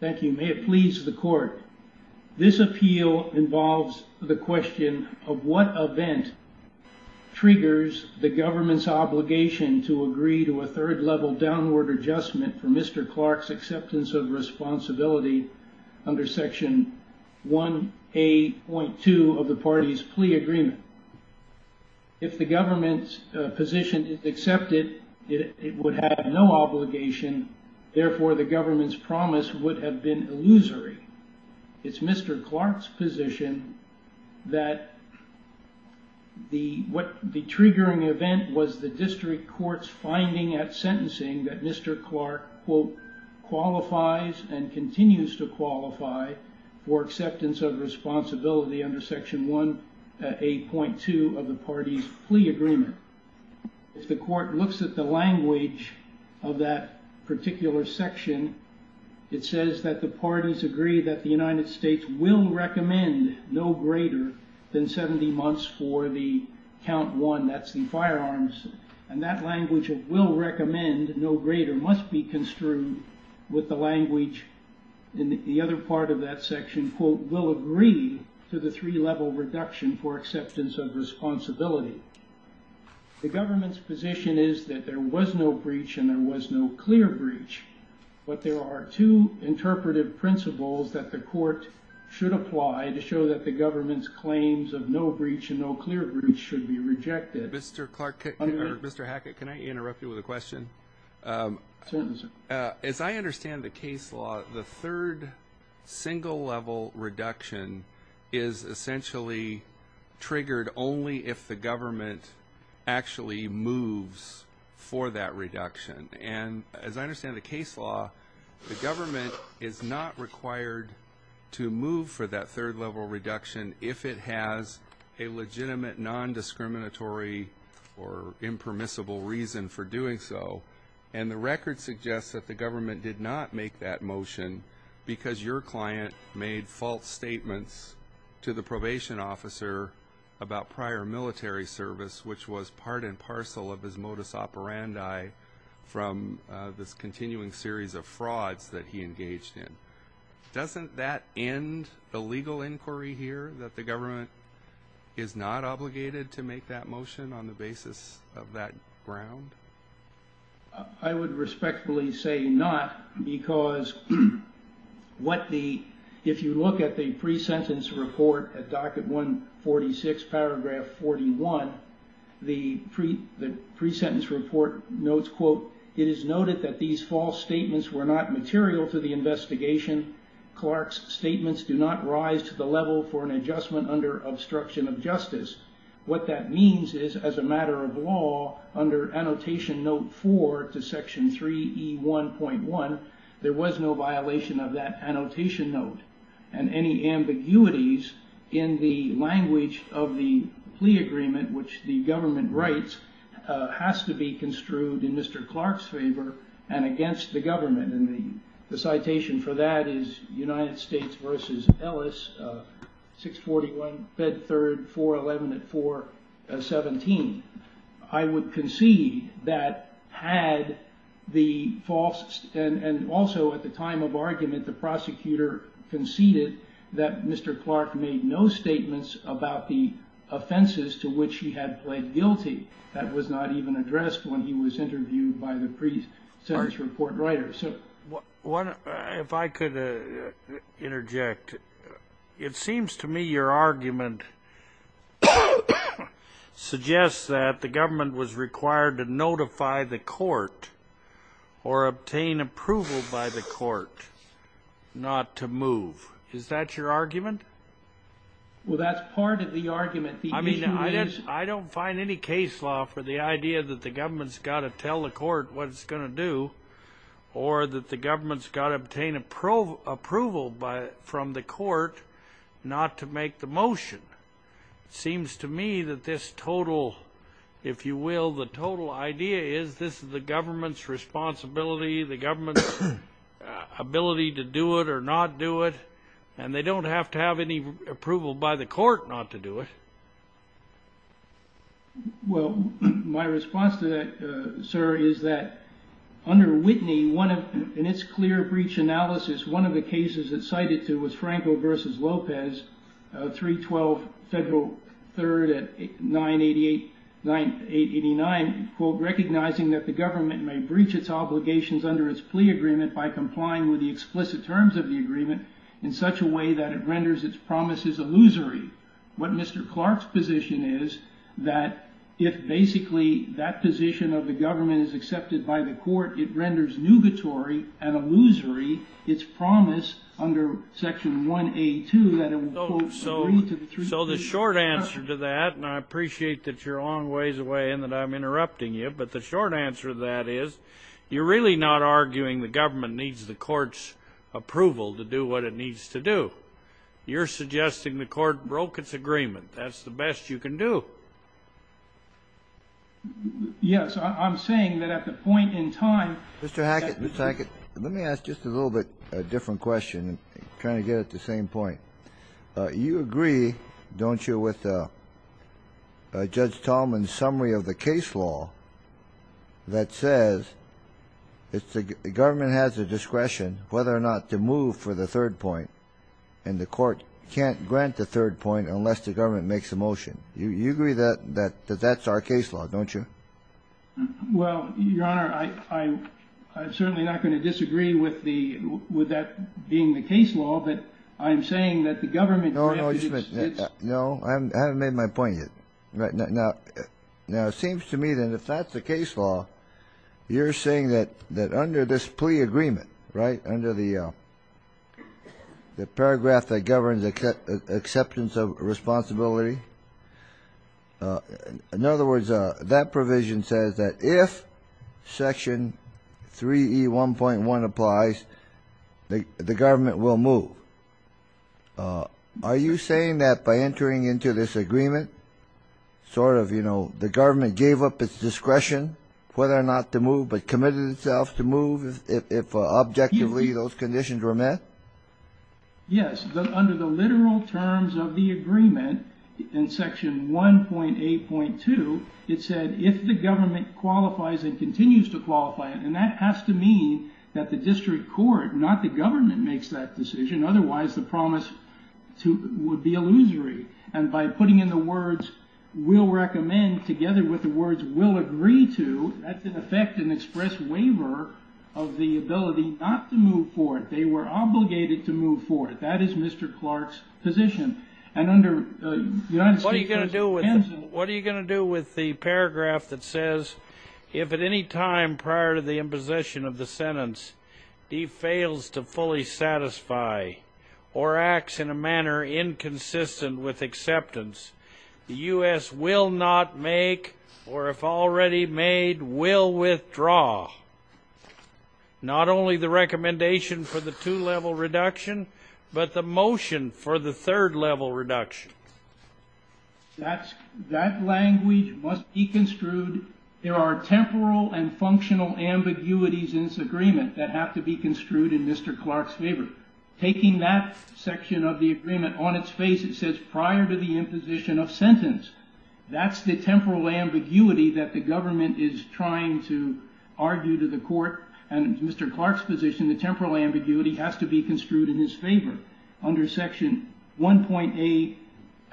Thank you. May it please the court. This appeal involves the question of what event triggers the government's obligation to agree to a third-level downward adjustment for Mr. Clark's acceptance of responsibility under Section 1A.2 of the party's plea agreement. If the government's position is accepted, it would have no obligation, therefore the government's promise would have been illusory. It's Mr. Clark's position that the triggering event was the district court's finding at sentencing that Mr. Clark, quote, qualifies and continues to qualify for acceptance of responsibility under Section 1A.2 of the party's plea agreement. If the court looks at the language of that particular section, it says that the parties agree that the United States will recommend no greater than 70 months for the count one, that's the firearms, and that language of will recommend no greater must be construed with the language in the other part of that section, quote, will agree to the three-level reduction for acceptance of responsibility. The government's position is that there was no breach and there was no clear breach, but there are two interpretive principles that the court should apply to show that the government's claims of no breach and no clear breach should be rejected. Mr. Clark, or Mr. Hackett, can I interrupt you with a question? As I understand the case law, the third single-level reduction is essentially triggered only if the government actually moves for that reduction, and as I understand the case law, the government is not required to move for that third-level reduction if it has a legitimate nondiscriminatory or impermissible reason for doing so. And the record suggests that the government did not make that motion because your client made false statements to the probation officer about prior military service, which was part and parcel of his modus operandi from this continuing series of frauds that he engaged in. Doesn't that end a legal inquiry here that the government is not obligated to make that motion on the basis of that ground? In addition, Clark's statements do not rise to the level for an adjustment under obstruction of justice. What that means is, as a matter of law, under Annotation Note 4 to Section 3E1.1, there was no violation of that annotation note, and any ambiguities in the language of the plea agreement, which the government writes, has to be construed in Mr. Clark's favor and against the government. And the citation for that is United States v. Ellis, 641 Bed 3, 411 at 417. I would concede that had the false, and also at the time of argument, the prosecutor conceded that Mr. Clark made no statements about the offenses to which he had pled guilty. That was not even addressed when he was interviewed by the pre-sentence report writer. If I could interject, it seems to me your argument suggests that the government was required to notify the court or obtain approval by the court not to move. Is that your argument? Well, that's part of the argument. Well, my response to that, sir, is that under Whitney, in its clear breach analysis, one of the cases it cited to was Franco v. Lopez, 312 Federal 3rd at 988, 9889, quote, recognizing that the government may breach its obligations under its plea agreement by complying with the explicit terms of the agreement in such a way that it renders it unconstitutional. In other words, its promise is illusory. What Mr. Clark's position is, that if basically that position of the government is accepted by the court, it renders nugatory and illusory its promise under Section 1A2 that it will, quote, agree to the three- Mr. Hackett, Mr. Hackett, let me ask just a little bit different question, trying to get at the same point. You agree, don't you, with Judge Tallman's summary of the case law that says the government has the discretion whether or not to move for the third point, and the court can't grant the third point unless the government makes a motion. You agree that that's our case law, don't you? Well, Your Honor, I'm certainly not going to disagree with that being the case law, but I'm saying that the government- No, I haven't made my point yet. Now, it seems to me that if that's the case law, you're saying that under this plea agreement, right, under the paragraph that governs acceptance of responsibility, in other words, that provision says that if Section 3E1.1 applies, the government will move. Are you saying that by entering into this agreement, sort of, you know, the government gave up its discretion whether or not to move, but committed itself to move if objectively those conditions were met? Yes, under the literal terms of the agreement, in Section 1.8.2, it said if the government qualifies and continues to qualify, and that has to mean that the district court, not the government, makes that decision, otherwise the promise would be illusory. And by putting in the words, we'll recommend, together with the words, we'll agree to, that's in effect an express waiver of the ability not to move forward. They were obligated to move forward. That is Mr. Clark's position. What are you going to do with the paragraph that says, if at any time prior to the imposition of the sentence, he fails to fully satisfy or acts in a manner inconsistent with acceptance, the U.S. will not make or, if already made, will withdraw, not only the recommendation for the two-level reduction, but the motion for the third-level reduction? That language must be construed. There are temporal and functional ambiguities in this agreement that have to be construed in Mr. Clark's favor. Taking that section of the agreement on its face, it says prior to the imposition of sentence. That's the temporal ambiguity that the government is trying to argue to the court. And in Mr. Clark's position, the temporal ambiguity has to be construed in his favor. Under Section 1.8,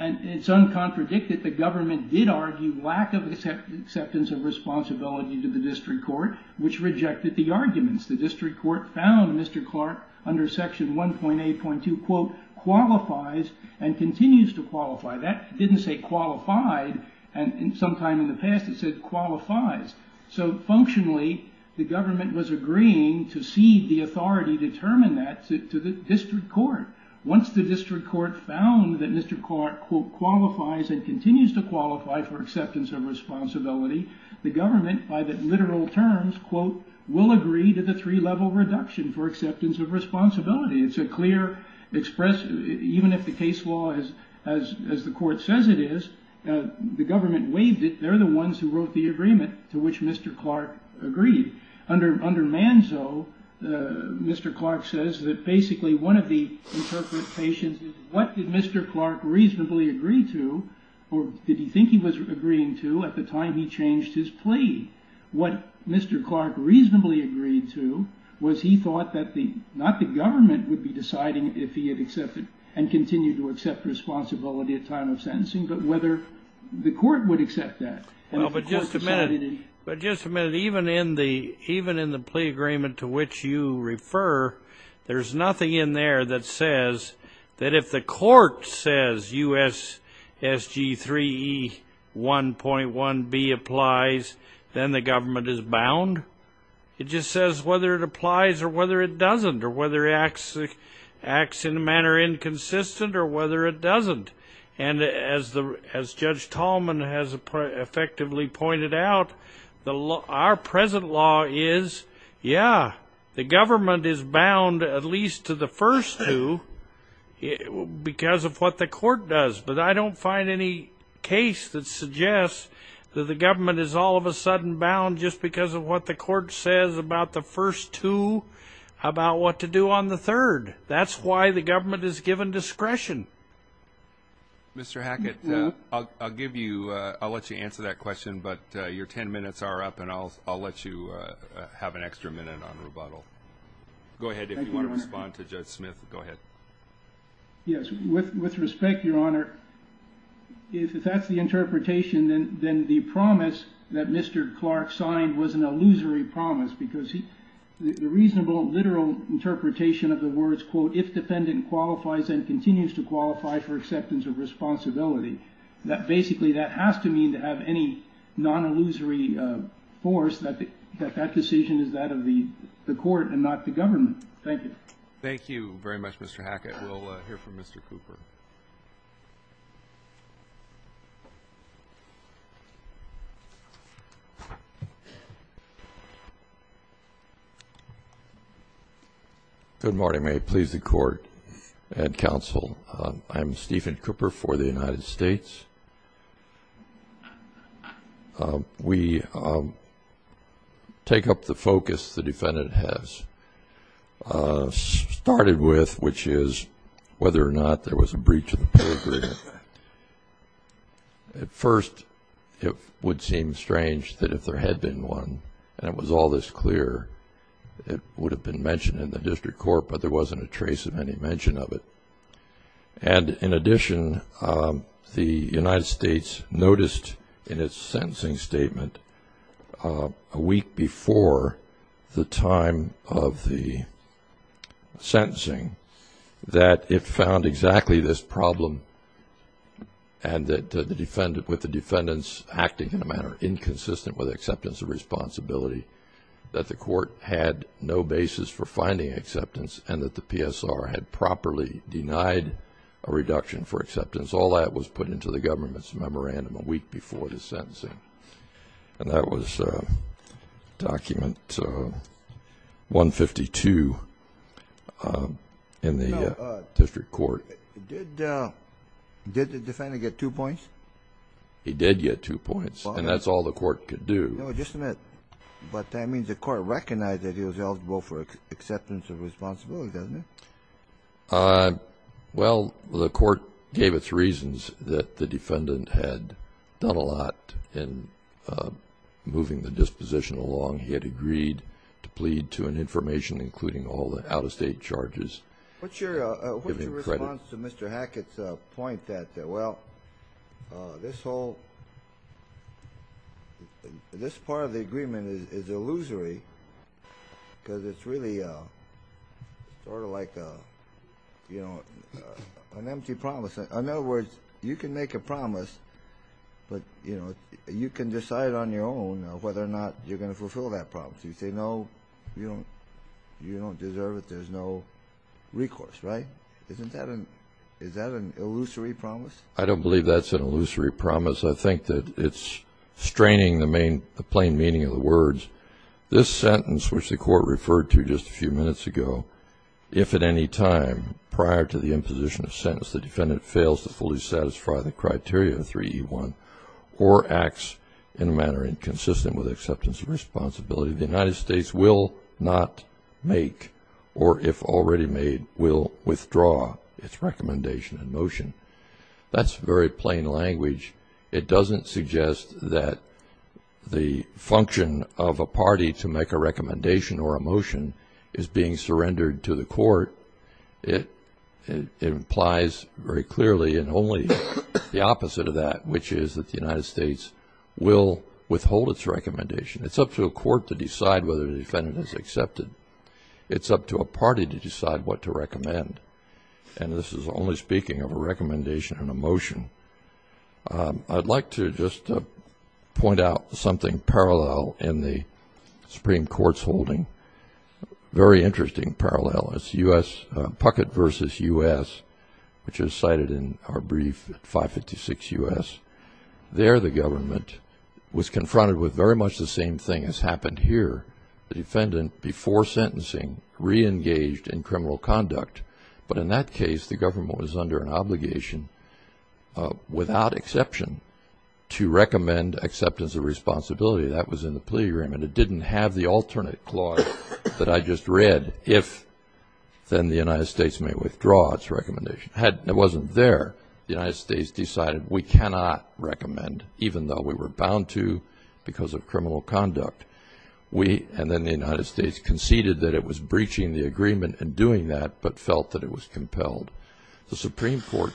it's uncontradicted. The government did argue lack of acceptance of responsibility to the district court, which rejected the arguments. The district court found Mr. Clark, under Section 1.8.2, quote, qualifies and continues to qualify. That didn't say qualified. And sometime in the past, it said qualifies. So functionally, the government was agreeing to cede the authority to determine that to the district court. Once the district court found that Mr. Clark, quote, qualifies and continues to qualify for acceptance of responsibility, the government, by the literal terms, quote, will agree to the three-level reduction for acceptance of responsibility. It's a clear expression. Even if the case law, as the court says it is, the government waived it. They're the ones who wrote the agreement to which Mr. Clark agreed. Under Manzo, Mr. Clark says that basically one of the interpretations is what did Mr. Clark reasonably agree to, or did he think he was agreeing to at the time he changed his plea? What Mr. Clark reasonably agreed to was he thought that not the government would be deciding if he had accepted and continued to accept responsibility at time of sentencing, but whether the court would accept that. Well, but just a minute. But just a minute. Even in the plea agreement to which you refer, there's nothing in there that says that if the court says U.S. S.G. 3E 1.1b applies, then the government is bound. It just says whether it applies or whether it doesn't or whether it acts in a manner inconsistent or whether it doesn't. And as Judge Tallman has effectively pointed out, our present law is, yeah, the government is bound at least to the first two because of what the court does, but I don't find any case that suggests that the government is all of a sudden bound just because of what the court says about the first two about what to do on the third. That's why the government is given discretion. Mr. Hackett, I'll give you, I'll let you answer that question, but your ten minutes are up, and I'll let you have an extra minute on rebuttal. Go ahead. If you want to respond to Judge Smith, go ahead. Yes. With respect, Your Honor, if that's the interpretation, then the promise that Mr. Clark signed was an illusory promise because the reasonable, literal interpretation of the words, quote, if defendant qualifies and continues to qualify for acceptance of responsibility, that basically that has to mean to have any non-illusory force that that decision is that of the court and not the government. Thank you. Thank you very much, Mr. Hackett. We'll hear from Mr. Cooper. Good morning. May it please the Court and counsel, I'm Stephen Cooper for the United States. We take up the focus the defendant has. Started with, which is whether or not there was a breach of the pedigree. At first, it would seem strange that if there had been one and it was all this clear, it would have been mentioned in the district court, but there wasn't a trace of any mention of it. And in addition, the United States noticed in its sentencing statement a week before the time of the sentencing that it found exactly this problem and that with the defendants acting in a manner inconsistent with acceptance of responsibility, that the court had no basis for finding acceptance and that the PSR had properly denied a reduction for acceptance. All that was put into the government's memorandum a week before the sentencing. And that was document 152 in the district court. Did the defendant get two points? He did get two points, and that's all the court could do. But that means the court recognized that he was eligible for acceptance of responsibility, doesn't it? Well, the court gave its reasons that the defendant had done a lot in moving the disposition along. He had agreed to plead to an information including all the out-of-state charges. What's your response to Mr. Hackett's point that, well, this whole – this part of the agreement is illusory because it's really sort of like an empty promise. In other words, you can make a promise, but you can decide on your own whether or not you're going to fulfill that promise. You say, no, you don't deserve it. There's no recourse, right? Isn't that an – is that an illusory promise? I don't believe that's an illusory promise. I think that it's straining the plain meaning of the words. This sentence, which the court referred to just a few minutes ago, if at any time prior to the imposition of sentence the defendant fails to fully satisfy the criteria 3E1 or acts in a manner inconsistent with acceptance of responsibility, the United States will not make or, if already made, will withdraw its recommendation in motion. That's very plain language. It doesn't suggest that the function of a party to make a recommendation or a motion is being surrendered to the court. It implies very clearly and only the opposite of that, which is that the United States will withhold its recommendation. It's up to a court to decide whether the defendant is accepted. It's up to a party to decide what to recommend, and this is only speaking of a recommendation and a motion. I'd like to just point out something parallel in the Supreme Court's holding, a very interesting parallel. It's Puckett v. U.S., which is cited in our brief at 556 U.S. There the government was confronted with very much the same thing as happened here. The defendant, before sentencing, reengaged in criminal conduct, but in that case the government was under an obligation, without exception, to recommend acceptance of responsibility. That was in the plea agreement. It didn't have the alternate clause that I just read, if then the United States may withdraw its recommendation. It wasn't there. The United States decided we cannot recommend, even though we were bound to because of criminal conduct. We, and then the United States, conceded that it was breaching the agreement in doing that, but felt that it was compelled. The Supreme Court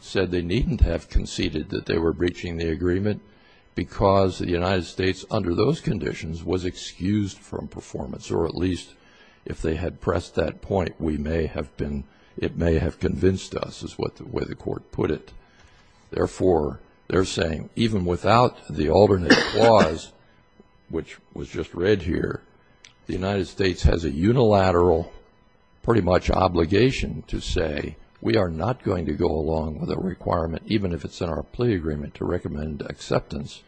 said they needn't have conceded that they were breaching the agreement because the United States, under those conditions, was excused from performance, or at least if they had pressed that point, it may have convinced us, is the way the court put it. Therefore, they're saying, even without the alternate clause, which was just read here, the United States has a unilateral pretty much obligation to say, we are not going to go along with a requirement, even if it's in our plea agreement, to recommend acceptance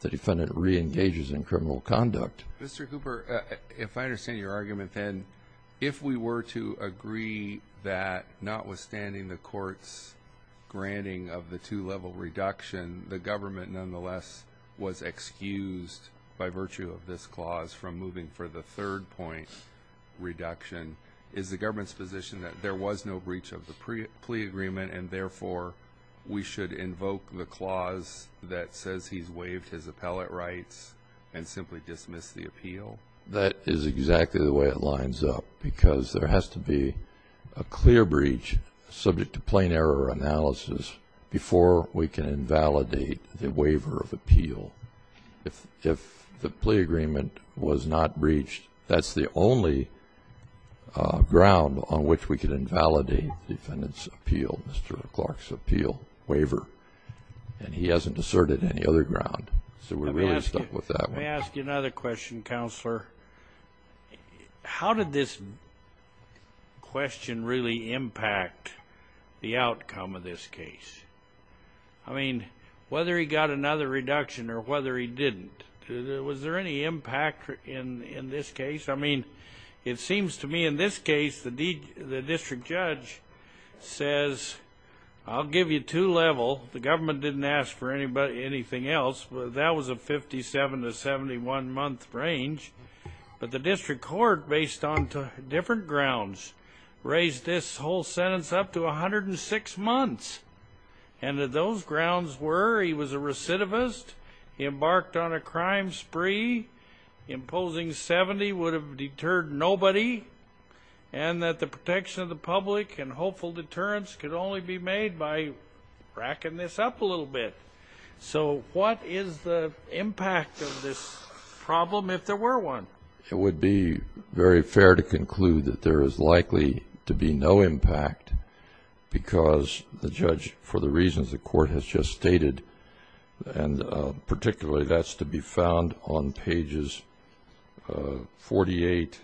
the defendant reengages in criminal conduct. Mr. Cooper, if I understand your argument, then, if we were to agree that notwithstanding the court's granting of the two-level reduction, the government nonetheless was excused by virtue of this clause from moving for the third point reduction, is the government's position that there was no breach of the plea agreement, and therefore we should invoke the clause that says he's waived his appellate rights and simply dismiss the appeal? That is exactly the way it lines up, because there has to be a clear breach subject to plain error analysis before we can invalidate the waiver of appeal. If the plea agreement was not breached, that's the only ground on which we can invalidate the defendant's appeal, Mr. Clark's appeal waiver, and he hasn't asserted any other ground. So we're really stuck with that one. Let me ask you another question, Counselor. How did this question really impact the outcome of this case? I mean, whether he got another reduction or whether he didn't, was there any impact in this case? I mean, it seems to me in this case the district judge says, I'll give you two-level. The government didn't ask for anything else. That was a 57- to 71-month range, but the district court, based on different grounds, raised this whole sentence up to 106 months, and those grounds were he was a recidivist, he embarked on a crime spree, imposing 70 would have deterred nobody, and that the protection of the public and hopeful deterrence could only be made by racking this up a little bit. So what is the impact of this problem if there were one? It would be very fair to conclude that there is likely to be no impact because the judge, for the reasons the court has just stated, and particularly that's to be found on pages 48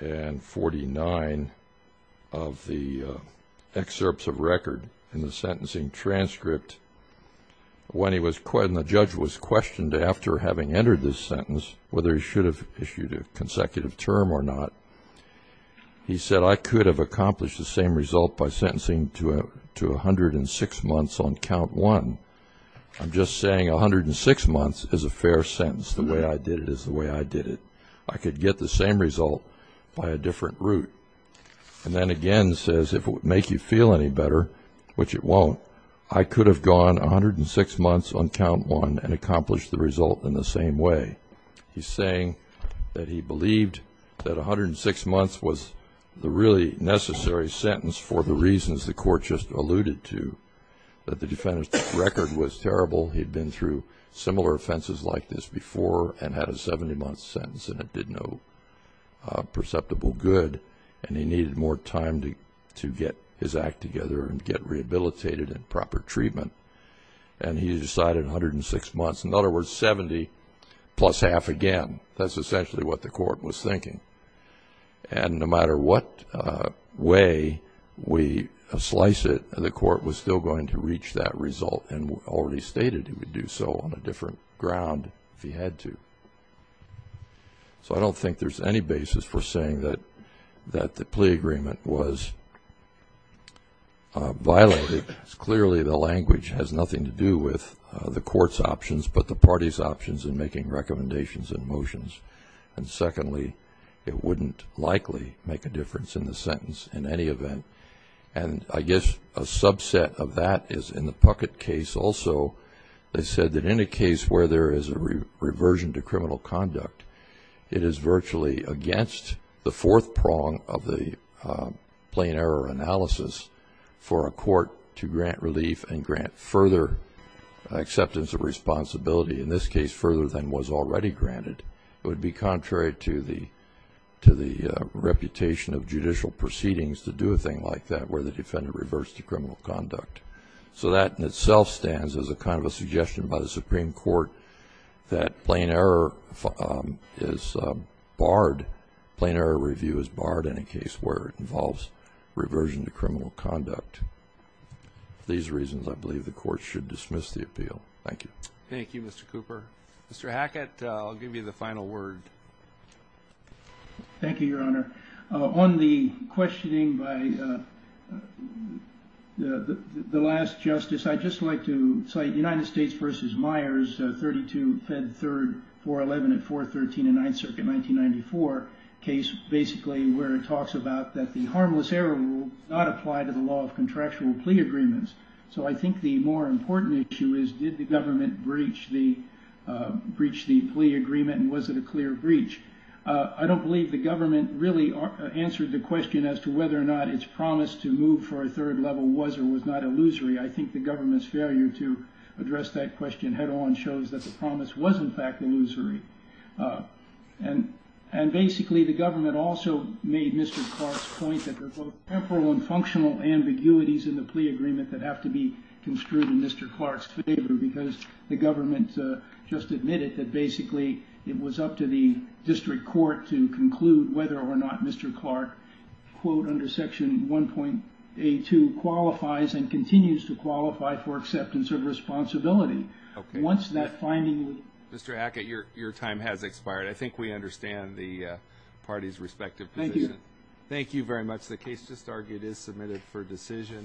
and 49 of the excerpts of record in the sentencing transcript when the judge was questioned after having entered this sentence whether he should have issued a consecutive term or not. He said, I could have accomplished the same result by sentencing to 106 months on count one. I'm just saying 106 months is a fair sentence. The way I did it is the way I did it. I could get the same result by a different route. And then again says if it would make you feel any better, which it won't, I could have gone 106 months on count one and accomplished the result in the same way. He's saying that he believed that 106 months was the really necessary sentence for the reasons the court just alluded to, that the defendant's record was terrible, he'd been through similar offenses like this before and had a 70-month sentence and it did no perceptible good, and he needed more time to get his act together and get rehabilitated and proper treatment, and he decided 106 months. In other words, 70 plus half again. That's essentially what the court was thinking. And no matter what way we slice it, the court was still going to reach that result and already stated he would do so on a different ground if he had to. So I don't think there's any basis for saying that the plea agreement was violated. Clearly the language has nothing to do with the court's options but the party's options in making recommendations and motions. And secondly, it wouldn't likely make a difference in the sentence in any event. And I guess a subset of that is in the Puckett case also. They said that in a case where there is a reversion to criminal conduct, it is virtually against the fourth prong of the plain error analysis for a court to grant relief and grant further acceptance of responsibility, in this case further than was already granted. It would be contrary to the reputation of judicial proceedings to do a thing like that where the defendant reverts to criminal conduct. So that in itself stands as a kind of a suggestion by the Supreme Court that plain error is barred, plain error review is barred in a case where it involves reversion to criminal conduct. For these reasons, I believe the court should dismiss the appeal. Thank you. Thank you, Mr. Cooper. Mr. Hackett, I'll give you the final word. Thank you, Your Honor. On the questioning by the last justice, I'd just like to cite United States v. Myers, 32 Fed 3rd 411 at 413 and 9th Circuit, 1994, a case basically where it talks about that the harmless error rule does not apply to the law of contractual plea agreements. So I think the more important issue is did the government breach the plea agreement and was it a clear breach? I don't believe the government really answered the question as to whether or not its promise to move for a third level was or was not illusory. I think the government's failure to address that question head-on shows that the promise was, in fact, illusory. And basically, the government also made Mr. Clark's point that there's both temporal and functional ambiguities in the plea agreement that have to be construed in Mr. Clark's favor because the government just admitted that basically it was up to the district court to conclude whether or not Mr. Clark, quote, under Section 1.82, qualifies and continues to qualify for acceptance of responsibility. Once that finding was made. Mr. Hackett, your time has expired. I think we understand the parties' respective position. Thank you very much. The case just argued is submitted for decision.